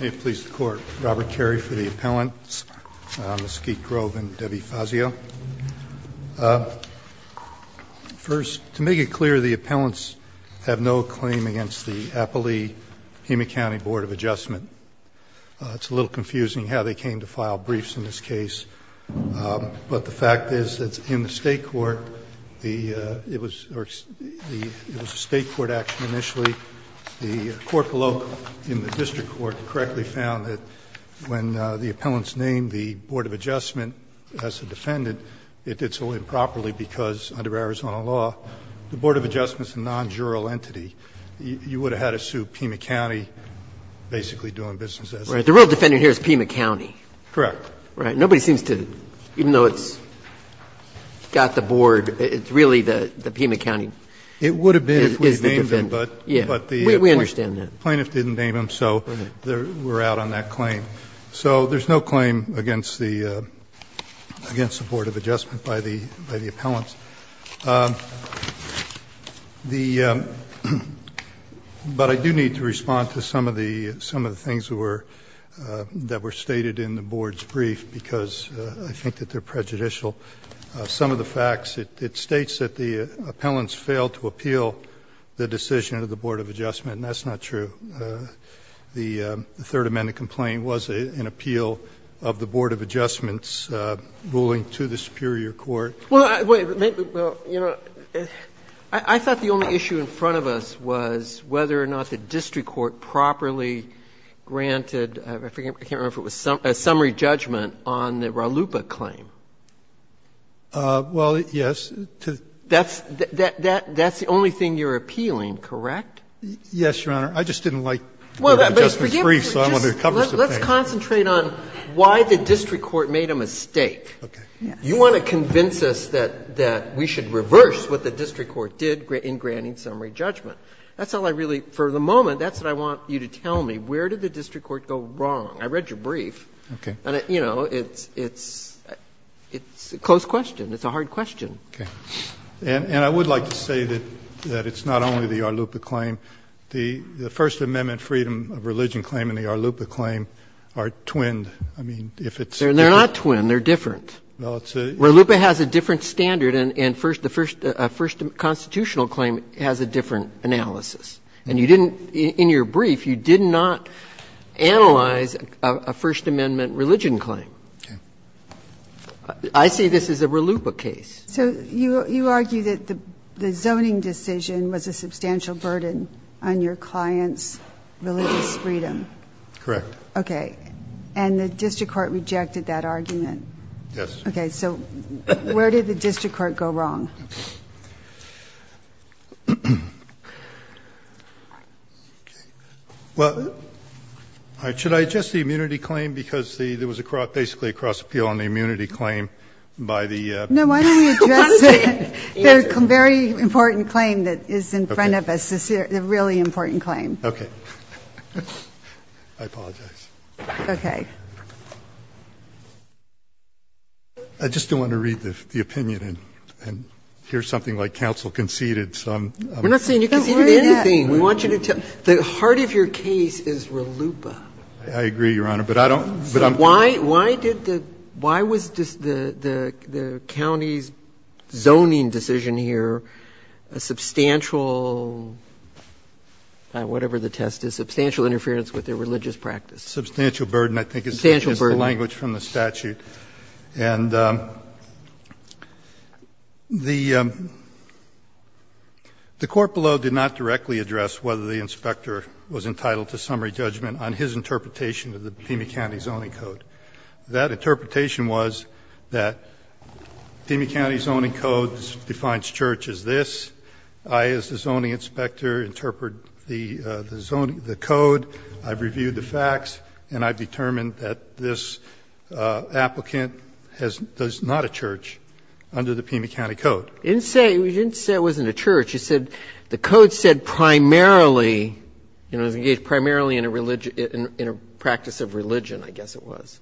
May it please the Court, Robert Carey for the appellants, Mesquite Grove and Debbie Fazio. First, to make it clear, the appellants have no claim against the Appalachia-Pima County Board of Adjustment. It's a little confusing how they came to file briefs in this case. But the fact is that in the state court, it was a state court action initially. The court below in the district court correctly found that when the appellants named the Board of Adjustment as the defendant, it did so improperly because, under Arizona law, the Board of Adjustment is a non-jural entity. You would have had to sue Pima County basically doing business as the defendant. Right. The real defendant here is Pima County. Correct. Right. Nobody seems to, even though it's got the board, it's really the Pima County is the defendant. We understand that. The plaintiff didn't name him, so we're out on that claim. So there's no claim against the Board of Adjustment by the appellants. But I do need to respond to some of the things that were stated in the board's brief because I think that they're prejudicial. Some of the facts, it states that the appellants failed to appeal the decision of the Board of Adjustment, and that's not true. The Third Amendment complaint was an appeal of the Board of Adjustment's ruling to the superior court. Well, wait. I thought the only issue in front of us was whether or not the district court properly granted, I forget, I can't remember if it was a summary judgment on the Ralupa claim. Well, yes. That's the only thing you're appealing, correct? Yes, Your Honor. I just didn't like the Board of Adjustment's brief, so I wanted to cover something. Let's concentrate on why the district court made a mistake. Okay. You want to convince us that we should reverse what the district court did in granting summary judgment. That's all I really, for the moment, that's what I want you to tell me. Where did the district court go wrong? I read your brief. Okay. You know, it's a close question. It's a hard question. Okay. And I would like to say that it's not only the Ralupa claim. The First Amendment freedom of religion claim and the Ralupa claim are twinned. I mean, if it's different. They're not twinned. They're different. Ralupa has a different standard, and the First Constitutional claim has a different analysis. And you didn't, in your brief, you did not analyze a First Amendment religion claim. Okay. I see this as a Ralupa case. So you argue that the zoning decision was a substantial burden on your client's religious freedom? Correct. Okay. And the district court rejected that argument? Yes. Okay. So where did the district court go wrong? Well, should I adjust the immunity claim? Because there was basically a cross-appeal on the immunity claim by the. No, why don't we address the very important claim that is in front of us, the really important claim. Okay. I apologize. Okay. I just don't want to read the opinion and hear something like counsel conceded. We're not saying you conceded anything. We want you to tell. The heart of your case is Ralupa. I agree, Your Honor, but I don't. Why did the why was the county's zoning decision here a substantial, whatever the test is, substantial interference with their religious practice? Substantial burden, I think, is the language from the statute. And the court below did not directly address whether the inspector was entitled to summary judgment on his interpretation of the Pima County Zoning Code. That interpretation was that Pima County Zoning Code defines church as this. I, as the zoning inspector, interpret the zoning, the code. I've reviewed the facts. And I've determined that this applicant is not a church under the Pima County Code. You didn't say it wasn't a church. You said the code said primarily, you know, engaged primarily in a practice of religion, I guess it was.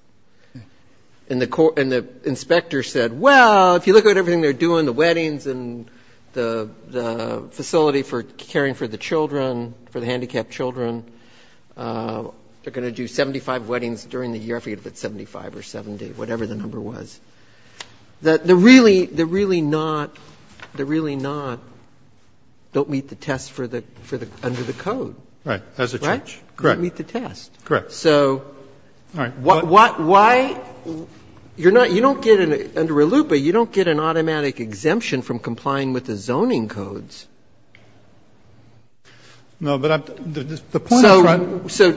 And the inspector said, well, if you look at everything they're doing, the weddings and the facility for caring for the children, for the handicapped children, they're doing 75 weddings during the year. I forget if it's 75 or 70, whatever the number was. They're really not, they're really not, don't meet the test for the, under the code. Right. As a church. Correct. Don't meet the test. Correct. So why, you're not, you don't get an, under ALUPA, you don't get an automatic exemption from complying with the zoning codes. No, but the point is right. So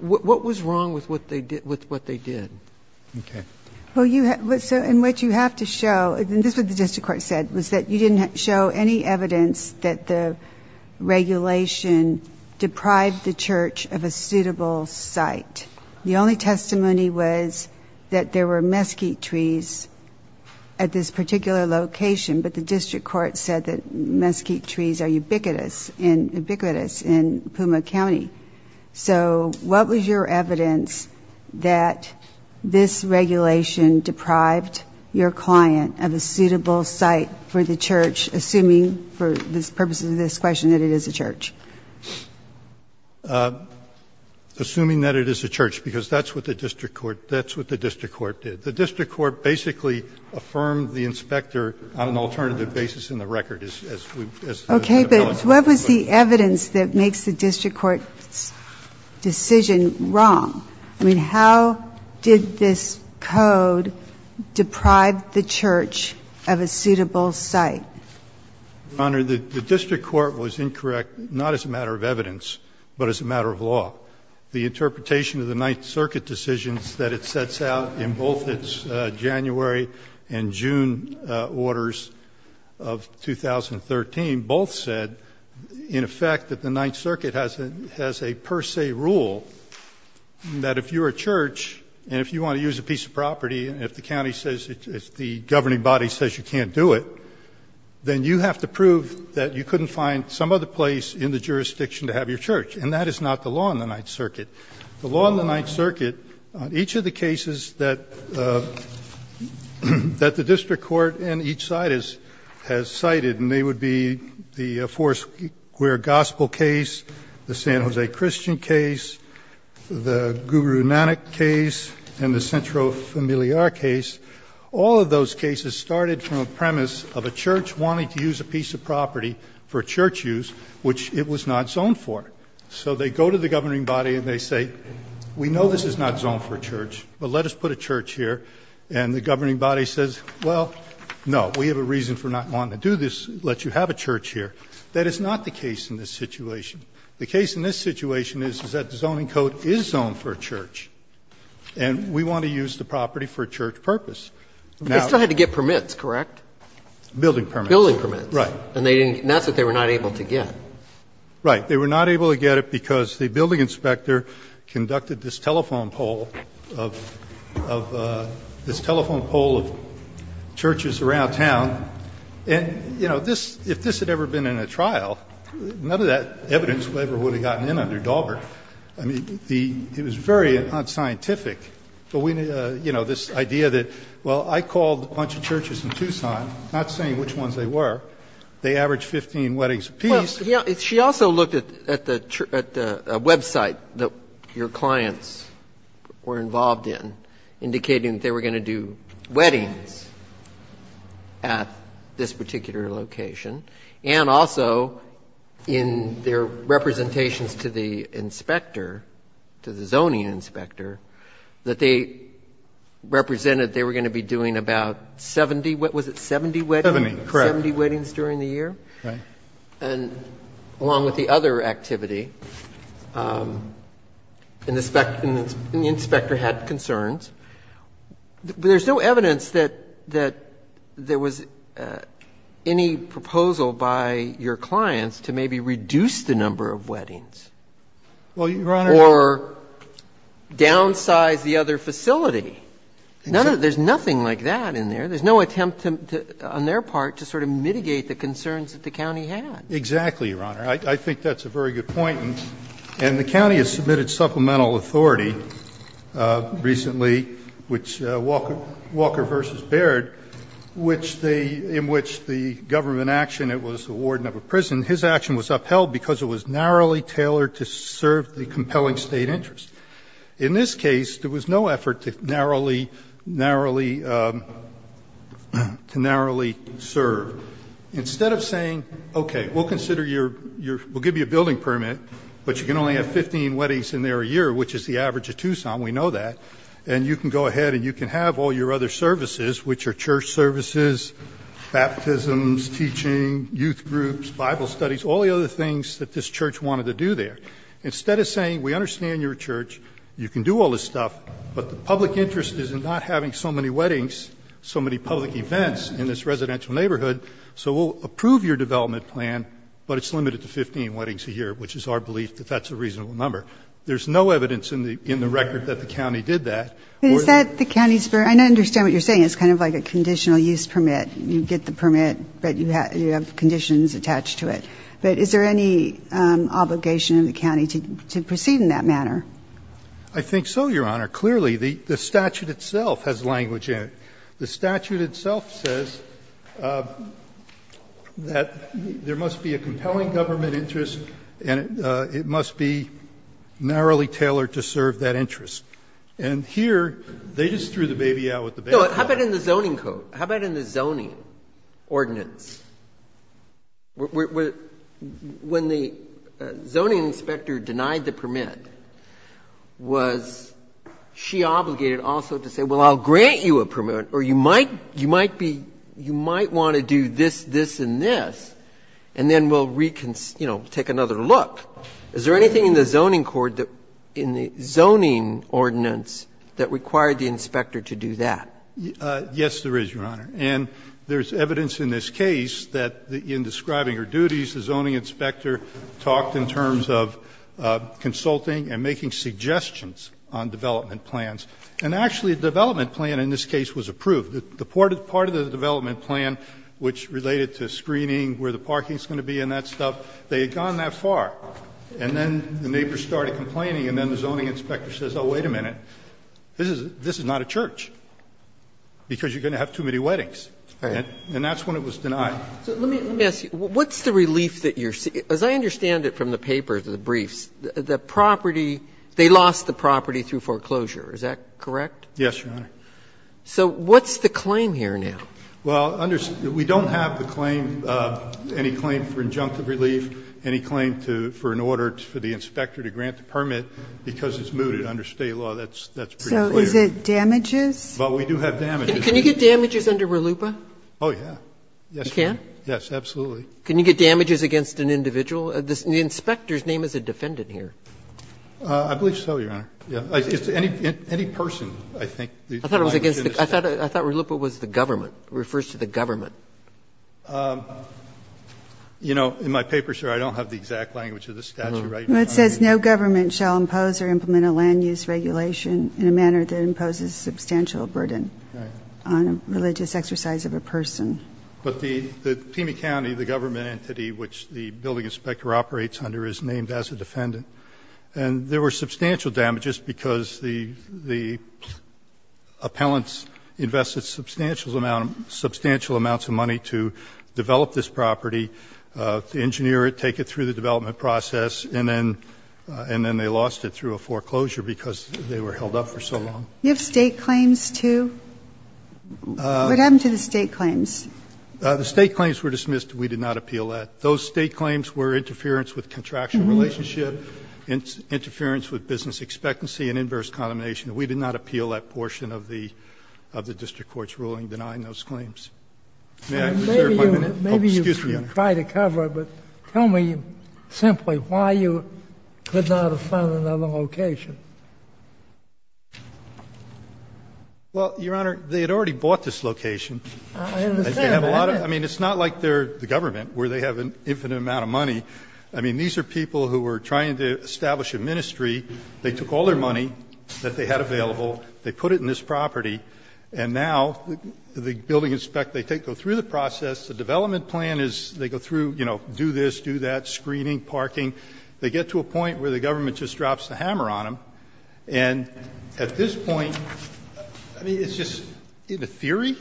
what was wrong with what they did? Okay. Well, you, and what you have to show, and this is what the district court said, was that you didn't show any evidence that the regulation deprived the church of a suitable site. The only testimony was that there were mesquite trees at this particular location, but the district court said that mesquite trees are ubiquitous in Pima County. So what was your evidence that this regulation deprived your client of a suitable site for the church, assuming, for the purposes of this question, that it is a church? Assuming that it is a church, because that's what the district court, that's what the district court did. The district court basically affirmed the inspector on an alternative basis in the record, as we've, as the ability. What was the evidence that makes the district court's decision wrong? I mean, how did this code deprive the church of a suitable site? Your Honor, the district court was incorrect, not as a matter of evidence, but as a matter of law. The interpretation of the Ninth Circuit decisions that it sets out in both its June orders of 2013 both said, in effect, that the Ninth Circuit has a per se rule that if you're a church and if you want to use a piece of property and if the county says, if the governing body says you can't do it, then you have to prove that you couldn't find some other place in the jurisdiction to have your church. And that is not the law in the Ninth Circuit. The law in the Ninth Circuit, each of the cases that the district court in each site has cited, and they would be the Foursquare Gospel case, the San Jose Christian case, the Guru Nanak case, and the Centro Familiar case, all of those cases started from a premise of a church wanting to use a piece of property for church use, which it was not zoned for. So they go to the governing body and they say, we know this is not zoned for a church, but let us put a church here, and the governing body says, well, no, we have a reason for not wanting to do this, let you have a church here. That is not the case in this situation. The case in this situation is, is that the zoning code is zoned for a church, and we want to use the property for a church purpose. Now they still had to get permits, correct? Building permits. Building permits. Right. And that's what they were not able to get. Right. They were not able to get it because the building inspector conducted this telephone poll of, of, this telephone poll of churches around town, and, you know, this, if this had ever been in a trial, none of that evidence ever would have gotten in under Daubert. I mean, the, it was very unscientific. But we, you know, this idea that, well, I called a bunch of churches in Tucson, not saying which ones they were. They averaged 15 weddings apiece. Well, she also looked at the website that your clients were involved in, indicating that they were going to do weddings at this particular location, and also in their representations to the inspector, to the zoning inspector, that they represented they were going to be doing about 70, what was it, 70 weddings? 70. Correct. 70 weddings during the year. Right. And along with the other activity, and the inspector had concerns, but there's no evidence that, that there was any proposal by your clients to maybe reduce the number of weddings. Well, Your Honor. Or downsize the other facility. There's nothing like that in there. There's no attempt to, on their part, to sort of mitigate the concerns that the county had. Exactly, Your Honor. I think that's a very good point. And the county has submitted supplemental authority recently, which Walker v. Baird, which they, in which the government action, it was the warden of a prison. His action was upheld because it was narrowly tailored to serve the compelling State interest. In this case, there was no effort to narrowly serve. Instead of saying, okay, we'll consider your, we'll give you a building permit, but you can only have 15 weddings in there a year, which is the average of Tucson, we know that, and you can go ahead and you can have all your other services, which are church services, baptisms, teaching, youth groups, Bible studies, all the other things that this church wanted to do there. Instead of saying, we understand your church, you can do all this stuff, but the public interest is in not having so many weddings, so many public events in this residential neighborhood, so we'll approve your development plan, but it's limited to 15 weddings a year, which is our belief that that's a reasonable number. There's no evidence in the record that the county did that. Is that the county's, I understand what you're saying, it's kind of like a conditional use permit. You get the permit, but you have conditions attached to it. But is there any obligation in the county to proceed in that manner? I think so, Your Honor. Clearly, the statute itself has language in it. The statute itself says that there must be a compelling government interest and it must be narrowly tailored to serve that interest. And here, they just threw the baby out with the baby bottle. No, how about in the zoning code? How about in the zoning ordinance? When the zoning inspector denied the permit, was she obligated also to say, well, I'll grant you a permit, or you might be, you might want to do this, this, and this, and then we'll, you know, take another look. Is there anything in the zoning ordinance that required the inspector to do that? Yes, there is, Your Honor. And there's evidence in this case that in describing her duties, the zoning inspector talked in terms of consulting and making suggestions on development plans. And actually, the development plan in this case was approved. The part of the development plan which related to screening, where the parking is going to be and that stuff, they had gone that far. And then the neighbors started complaining, and then the zoning inspector says, oh, wait a minute. This is not a church, because you're going to have too many weddings. And that's when it was denied. So let me ask you, what's the relief that you're seeing? As I understand it from the papers, the briefs, the property, they lost the property through foreclosure. Is that correct? Yes, Your Honor. So what's the claim here now? Well, we don't have the claim, any claim for injunctive relief, any claim for an order to grant the permit because it's mooted under State law. That's pretty clear. So is it damages? But we do have damages. Can you get damages under RLUIPA? Oh, yeah. You can? Yes, absolutely. Can you get damages against an individual? The inspector's name is a defendant here. I believe so, Your Honor. It's any person, I think. I thought RLUIPA was the government, refers to the government. You know, in my paper, sir, I don't have the exact language of this statute. Well, it says, No government shall impose or implement a land-use regulation in a manner that imposes substantial burden on a religious exercise of a person. But the Pima County, the government entity which the building inspector operates under, is named as a defendant. And there were substantial damages because the appellants invested substantial amounts of money to develop this property, to engineer it, take it through the development process, and then they lost it through a foreclosure because they were held up for so long. You have State claims, too? What happened to the State claims? The State claims were dismissed. We did not appeal that. Those State claims were interference with contractual relationship, interference with business expectancy and inverse condemnation. We did not appeal that portion of the district court's ruling denying those claims. May I reserve my minute? Oh, excuse me, Your Honor. Maybe you could try to cover it, but tell me simply why you could not have found another location. Well, Your Honor, they had already bought this location. I understand. I mean, it's not like they're the government where they have an infinite amount of money. I mean, these are people who were trying to establish a ministry. They took all their money that they had available. They put it in this property. And now the building inspect, they go through the process. The development plan is they go through, you know, do this, do that, screening, parking. They get to a point where the government just drops the hammer on them. And at this point, I mean, it's just in theory,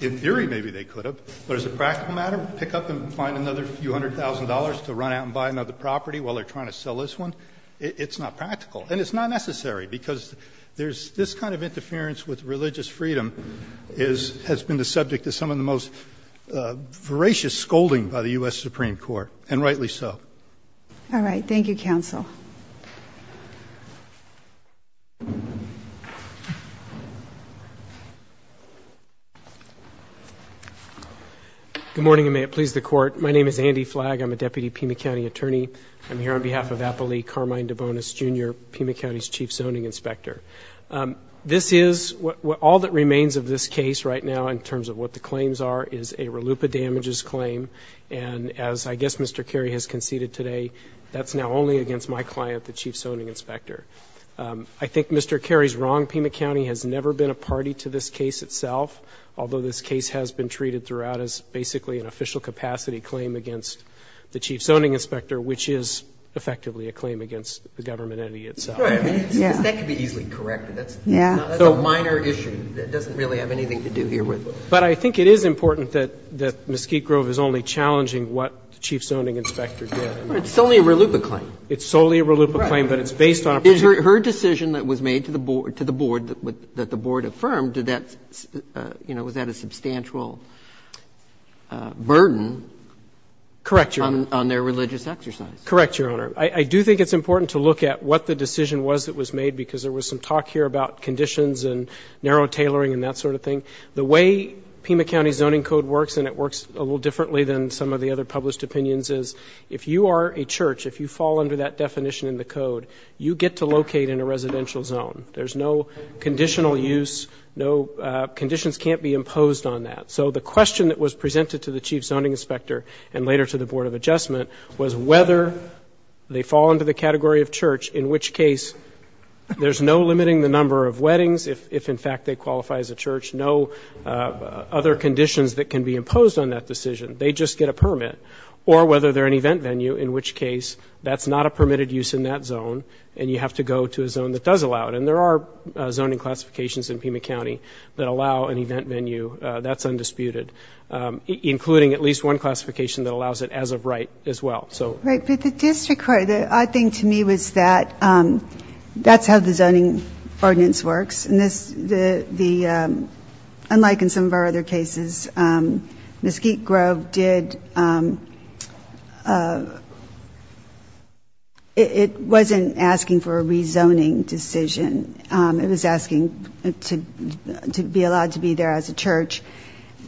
in theory maybe they could have. But as a practical matter, pick up and find another few hundred thousand dollars to run out and buy another property while they're trying to sell this one? It's not practical. And it's not necessary because there's this kind of interference with religious freedom has been the subject of some of the most voracious scolding by the U.S. Supreme Court, and rightly so. All right. Thank you, counsel. Good morning, and may it please the Court. My name is Andy Flagg. I'm a deputy Pima County attorney. I'm here on behalf of Apolli Carmine DeBonis, Jr., Pima County's chief zoning inspector. This is, all that remains of this case right now in terms of what the claims are, is a RLUPA damages claim. And as I guess Mr. Cary has conceded today, that's now only against my client, the chief zoning inspector. I think Mr. Cary's wrong. Pima County has never been a party to this case itself, although this case has been treated throughout as basically an official capacity claim against the chief zoning inspector, which is effectively a claim against the government entity itself. Right. I mean, that could be easily corrected. Yeah. That's a minor issue that doesn't really have anything to do here with it. But I think it is important that Mesquite Grove is only challenging what the chief zoning inspector did. It's solely a RLUPA claim. It's solely a RLUPA claim, but it's based on a procedure. Her decision that was made to the board, that the board affirmed, did that, you know, was that a substantial burden on their religious exercise? Correct, Your Honor. I do think it's important to look at what the decision was that was made, because there was some talk here about conditions and narrow tailoring and that sort of thing. The way Pima County's zoning code works, and it works a little differently than some of the other published opinions, is if you are a church, if you fall under that definition in the code, you get to locate in a residential zone. There's no conditional use, no conditions can't be imposed on that. So the question that was presented to the chief zoning inspector and later to the board of adjustment was whether they fall under the category of church, in which case there's no limiting the number of weddings, if in fact they qualify as a church, no other conditions that can be imposed on that decision. They just get a permit. Or whether they're an event venue, in which case that's not a permitted use in that zone and you have to go to a zone that does allow it. And there are zoning classifications in Pima County that allow an event venue. That's undisputed. Including at least one classification that allows it as of right as well. Right, but the district court, the odd thing to me was that that's how the zoning ordinance works. And unlike in some of our other cases, Mesquite Grove wasn't asking for a rezoning decision. It was asking to be allowed to be there as a church.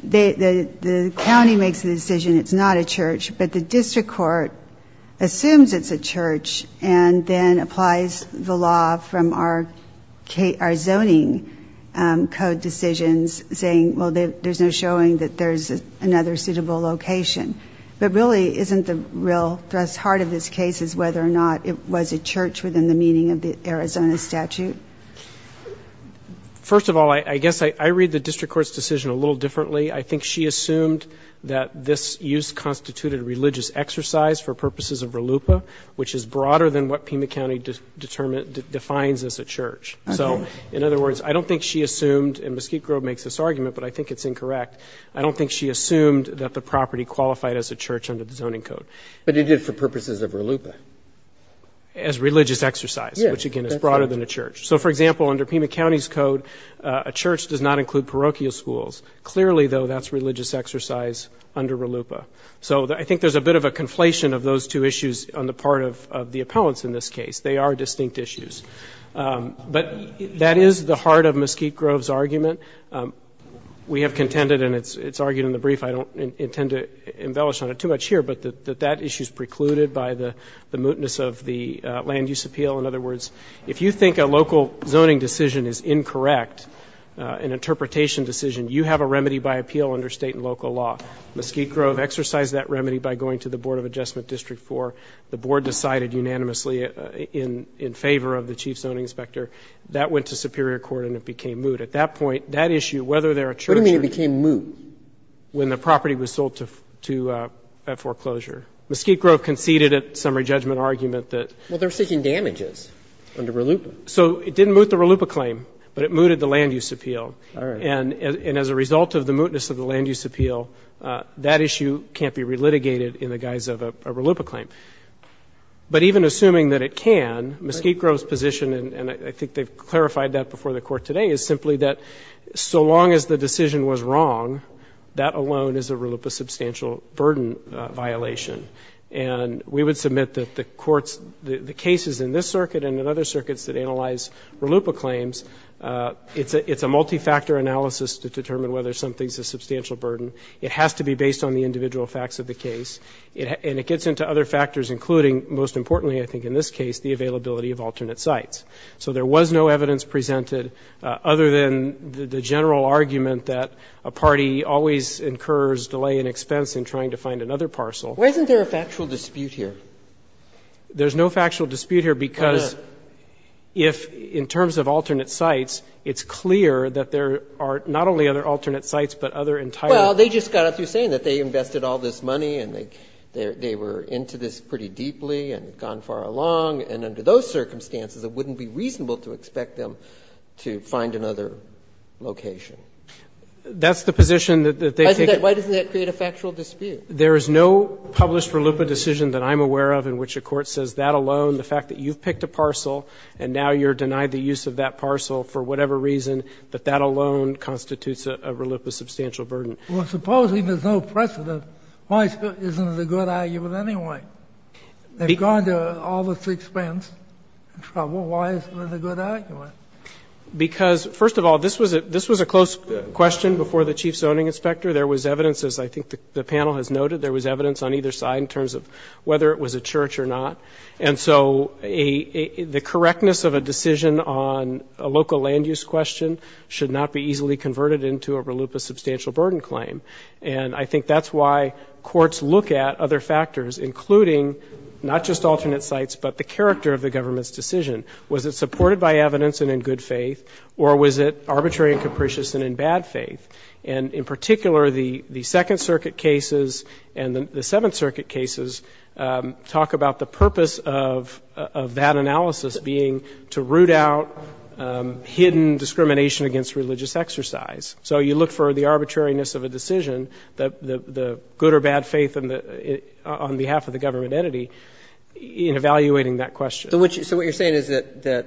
The county makes the decision it's not a church, but the district court assumes it's a church and then applies the law from our zoning code decisions, saying, well, there's no showing that there's another suitable location. But really isn't the real thrust heart of this case is whether or not it was a church within the meaning of the Arizona statute? First of all, I guess I read the district court's decision a little differently. I think she assumed that this use constituted religious exercise for purposes of relupa, which is broader than what Pima County defines as a church. So, in other words, I don't think she assumed, and Mesquite Grove makes this argument, but I think it's incorrect. I don't think she assumed that the property qualified as a church under the zoning code. But it did for purposes of relupa. As religious exercise, which, again, is broader than a church. So, for example, under Pima County's code, a church does not include parochial schools. Clearly, though, that's religious exercise under relupa. So I think there's a bit of a conflation of those two issues on the part of the appellants in this case. They are distinct issues. But that is the heart of Mesquite Grove's argument. We have contended, and it's argued in the brief, I don't intend to embellish on it too much here, but that that issue is precluded by the mootness of the land use appeal. In other words, if you think a local zoning decision is incorrect, an interpretation decision, you have a remedy by appeal under state and local law. Mesquite Grove exercised that remedy by going to the Board of Adjustment District 4. The board decided unanimously in favor of the chief zoning inspector. That went to superior court and it became moot. At that point, that issue, whether they're a church or not. What do you mean it became moot? When the property was sold to foreclosure. Mesquite Grove conceded a summary judgment argument that. Well, they're seeking damages under relupa. So it didn't moot the relupa claim, but it mooted the land use appeal. All right. And as a result of the mootness of the land use appeal, that issue can't be re-litigated in the guise of a relupa claim. But even assuming that it can, Mesquite Grove's position, and I think they've clarified that before the Court today, is simply that so long as the decision was wrong, that alone is a relupa substantial burden violation. And we would submit that the courts, the cases in this circuit and in other circuits that analyze relupa claims, it's a multi-factor analysis to determine whether something's a substantial burden. It has to be based on the individual facts of the case. And it gets into other factors, including, most importantly I think in this case, the availability of alternate sites. So there was no evidence presented other than the general argument that a party always incurs delay in expense in trying to find another parcel. Why isn't there a factual dispute here? There's no factual dispute here because. Because if, in terms of alternate sites, it's clear that there are not only other alternate sites, but other entire. Well, they just got it through saying that they invested all this money and they were into this pretty deeply and had gone far along. And under those circumstances, it wouldn't be reasonable to expect them to find another location. That's the position that they take. Why doesn't that create a factual dispute? There is no published relupa decision that I'm aware of in which a court says that alone, the fact that you've picked a parcel and now you're denied the use of that parcel for whatever reason, that that alone constitutes a relupa substantial burden. Well, supposing there's no precedent, why isn't it a good argument anyway? They've gone to all this expense and trouble. Why isn't it a good argument? Because, first of all, this was a close question before the chief zoning inspector. There was evidence, as I think the panel has noted, there was evidence on either side in terms of whether it was a church or not. And so the correctness of a decision on a local land use question should not be easily converted into a relupa substantial burden claim. And I think that's why courts look at other factors, including not just alternate sites, but the character of the government's decision. Was it supported by evidence and in good faith, or was it arbitrary and capricious and in bad faith? And in particular, the Second Circuit cases and the Seventh Circuit cases talk about the purpose of that analysis being to root out hidden discrimination against religious exercise. So you look for the arbitrariness of a decision, the good or bad faith on behalf of the government entity, in evaluating that question. So what you're saying is that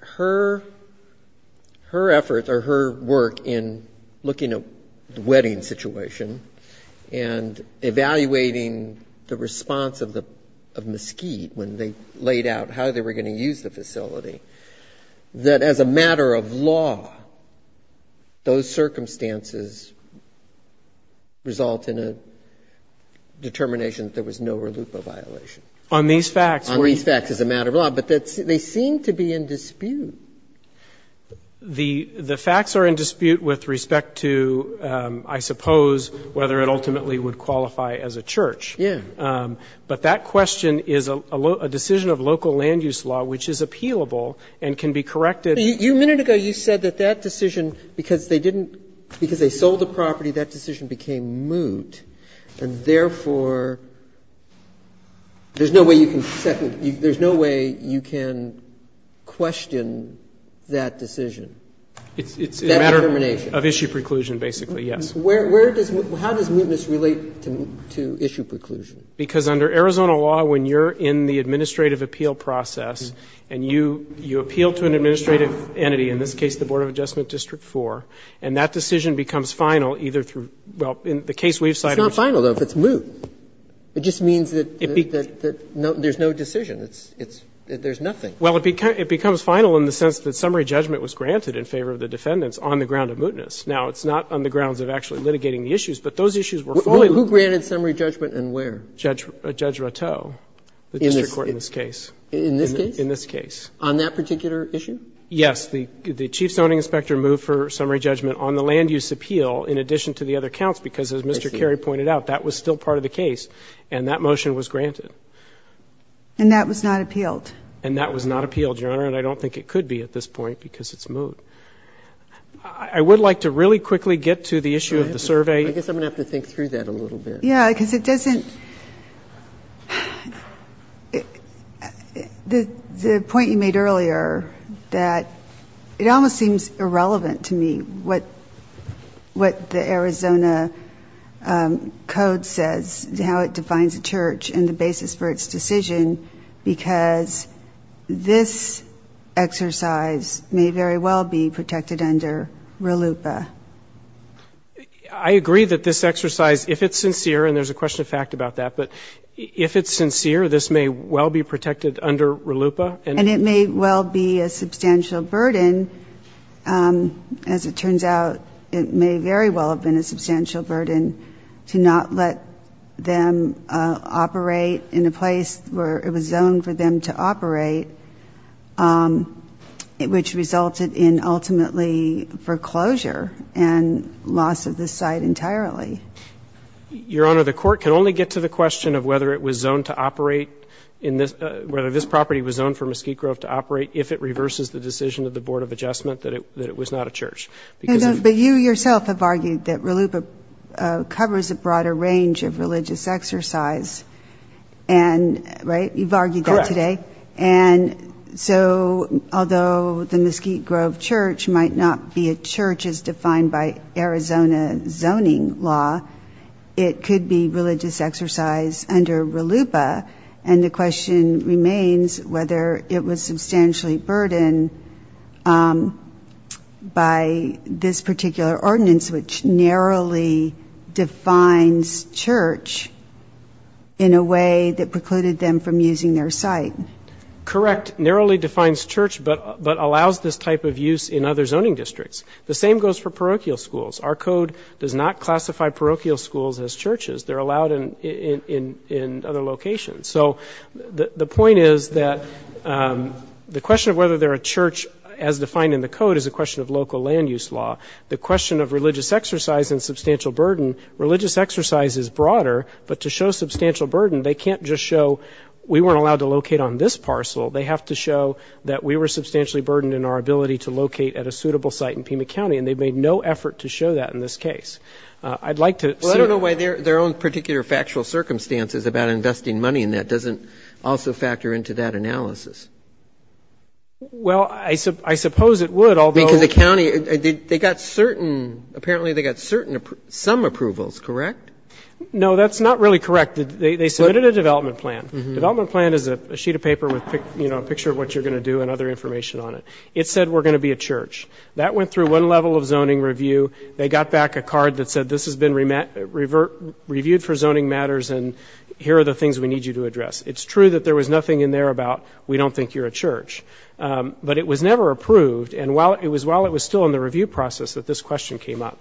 her efforts or her work in looking at the wedding situation and evaluating the response of Mesquite when they laid out how they were going to use the facility, that as a matter of law, those circumstances result in a determination that there was no relupa violation. On these facts. On these facts as a matter of law. But they seem to be in dispute. The facts are in dispute with respect to, I suppose, whether it ultimately would qualify as a church. Yeah. But that question is a decision of local land use law which is appealable and can be corrected. A minute ago you said that that decision, because they didn't – because they sold the property, that decision became moot. And therefore, there's no way you can second – there's no way you can question that decision, that determination. It's a matter of issue preclusion, basically, yes. Where does – how does mootness relate to issue preclusion? Because under Arizona law, when you're in the administrative appeal process and you appeal to an administrative entity, in this case the Board of Adjustment District 4, and that decision becomes final either through – well, in the case we've cited. It's not final, though, if it's moot. It just means that there's no decision. It's – there's nothing. Well, it becomes final in the sense that summary judgment was granted in favor of the defendants on the ground of mootness. Now, it's not on the grounds of actually litigating the issues, but those issues were fully – Who granted summary judgment and where? Judge Rattou, the district court in this case. In this case? In this case. On that particular issue? Yes. The chief zoning inspector moved for summary judgment on the land use appeal in addition to the other counts because, as Mr. Carey pointed out, that was still part of the case and that motion was granted. And that was not appealed? And that was not appealed, Your Honor, and I don't think it could be at this point because it's moot. I would like to really quickly get to the issue of the survey. I guess I'm going to have to think through that a little bit. Yeah, because it doesn't – the point you made earlier that it almost seems irrelevant to me what the Arizona Code says, how it defines a church and the basis for its decision, because this exercise may very well be protected under RLUIPA. I agree that this exercise, if it's sincere, and there's a question of fact about that, but if it's sincere, this may well be protected under RLUIPA. And it may well be a substantial burden. As it turns out, it may very well have been a substantial burden to not let them operate in a place where it was zoned for them to operate, which resulted in ultimately foreclosure and loss of the site entirely. Your Honor, the Court can only get to the question of whether it was zoned to operate in this – whether this property was zoned for Mesquite Grove to operate if it reverses the decision of the Board of Adjustment that it was not a church. But you yourself have argued that RLUIPA covers a broader range of religious exercise, and – right? You've argued that today. Correct. And so although the Mesquite Grove church might not be a church as defined by Arizona zoning law, it could be religious exercise under RLUIPA. And the question remains whether it was substantially burdened by this particular ordinance, which narrowly defines church in a way that precluded them from using their site. Correct. Narrowly defines church, but allows this type of use in other zoning districts. The same goes for parochial schools. Our code does not classify parochial schools as churches. They're allowed in other locations. So the point is that the question of whether they're a church as defined in the code is a question of local land use law. The question of religious exercise and substantial burden, religious exercise is broader. But to show substantial burden, they can't just show we weren't allowed to locate on this parcel. They have to show that we were substantially burdened in our ability to locate at a suitable site in Pima County. And they've made no effort to show that in this case. I'd like to see – Well, I don't know why their own particular factual circumstances about investing money in that doesn't also factor into that analysis. Well, I suppose it would, although – I mean, because the county, they got certain – apparently they got certain – some approvals, correct? No, that's not really correct. They submitted a development plan. Development plan is a sheet of paper with, you know, a picture of what you're going to do and other information on it. It said we're going to be a church. That went through one level of zoning review. They got back a card that said this has been reviewed for zoning matters, and here are the things we need you to address. It's true that there was nothing in there about we don't think you're a church. But it was never approved. And it was while it was still in the review process that this question came up.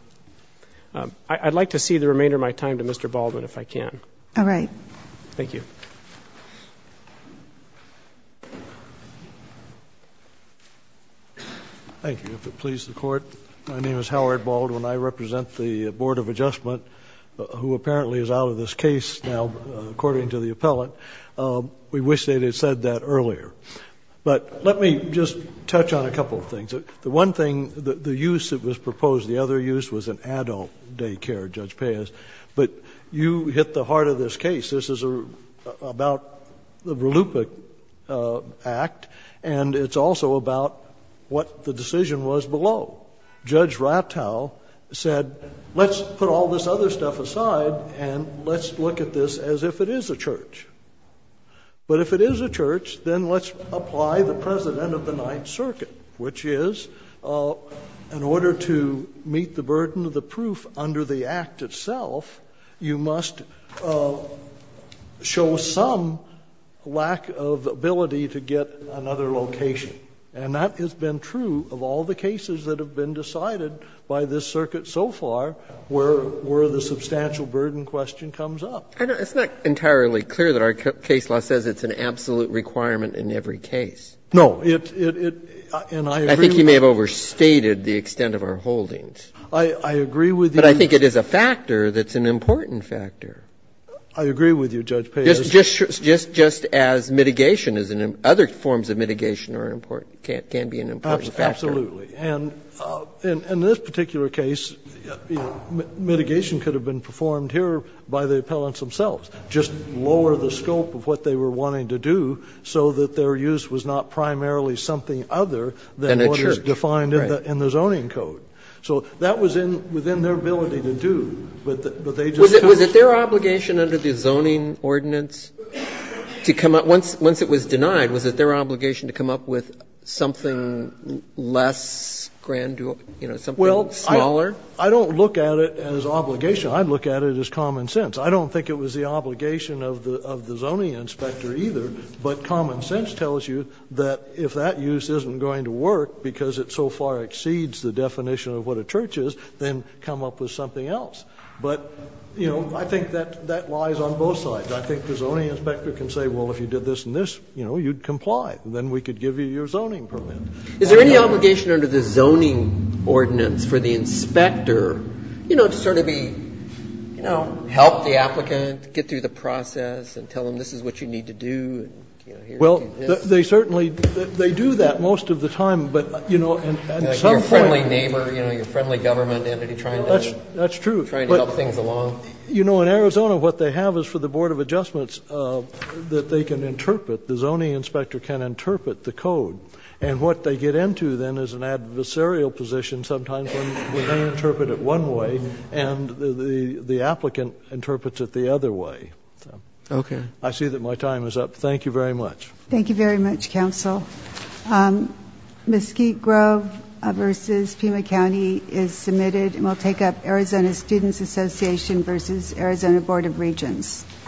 I'd like to see the remainder of my time to Mr. Baldwin, if I can. All right. Thank you. Thank you. If it pleases the Court, my name is Howard Baldwin. I represent the Board of Adjustment, who apparently is out of this case now, according to the appellant. We wish they had said that earlier. But let me just touch on a couple of things. The one thing, the use that was proposed, the other use was an adult daycare, Judge Payas. But you hit the heart of this case. This is about the Verlupka Act, and it's also about what the decision was below. Judge Rattow said let's put all this other stuff aside and let's look at this as if it is a church. But if it is a church, then let's apply the precedent of the Ninth Circuit, which is in order to meet the burden of the proof under the Act itself, you must show some lack of ability to get another location. And that has been true of all the cases that have been decided by this circuit so far where the substantial burden question comes up. And it's not entirely clear that our case law says it's an absolute requirement in every case. No, it, and I agree with you. I think you may have overstated the extent of our holdings. I agree with you. But I think it is a factor that's an important factor. I agree with you, Judge Payas. Absolutely. And in this particular case, mitigation could have been performed here by the appellants themselves, just lower the scope of what they were wanting to do so that their use was not primarily something other than what was defined in the zoning code. So that was within their ability to do, but they just couldn't. Was it their obligation under the zoning ordinance to come up, once it was denied, was it their obligation to come up with something less grand, you know, something smaller? Well, I don't look at it as obligation. I look at it as common sense. I don't think it was the obligation of the zoning inspector either, but common sense tells you that if that use isn't going to work because it so far exceeds the definition of what a church is, then come up with something else. But, you know, I think that lies on both sides. I think the zoning inspector can say, well, if you did this and this, you know, you'd comply. Then we could give you your zoning permit. Is there any obligation under the zoning ordinance for the inspector, you know, to sort of be, you know, help the applicant, get through the process and tell them this is what you need to do? Well, they certainly do that most of the time, but, you know, at some point. Your friendly neighbor, you know, your friendly government entity trying to help things along. That's true. You know, in Arizona what they have is for the Board of Adjustments that they can interpret. The zoning inspector can interpret the code. And what they get into then is an adversarial position sometimes when they interpret it one way and the applicant interprets it the other way. Okay. I see that my time is up. Thank you very much. Thank you very much, Counsel. Mesquite Grove versus Pima County is submitted. And we'll take up Arizona Students Association versus Arizona Board of Regents.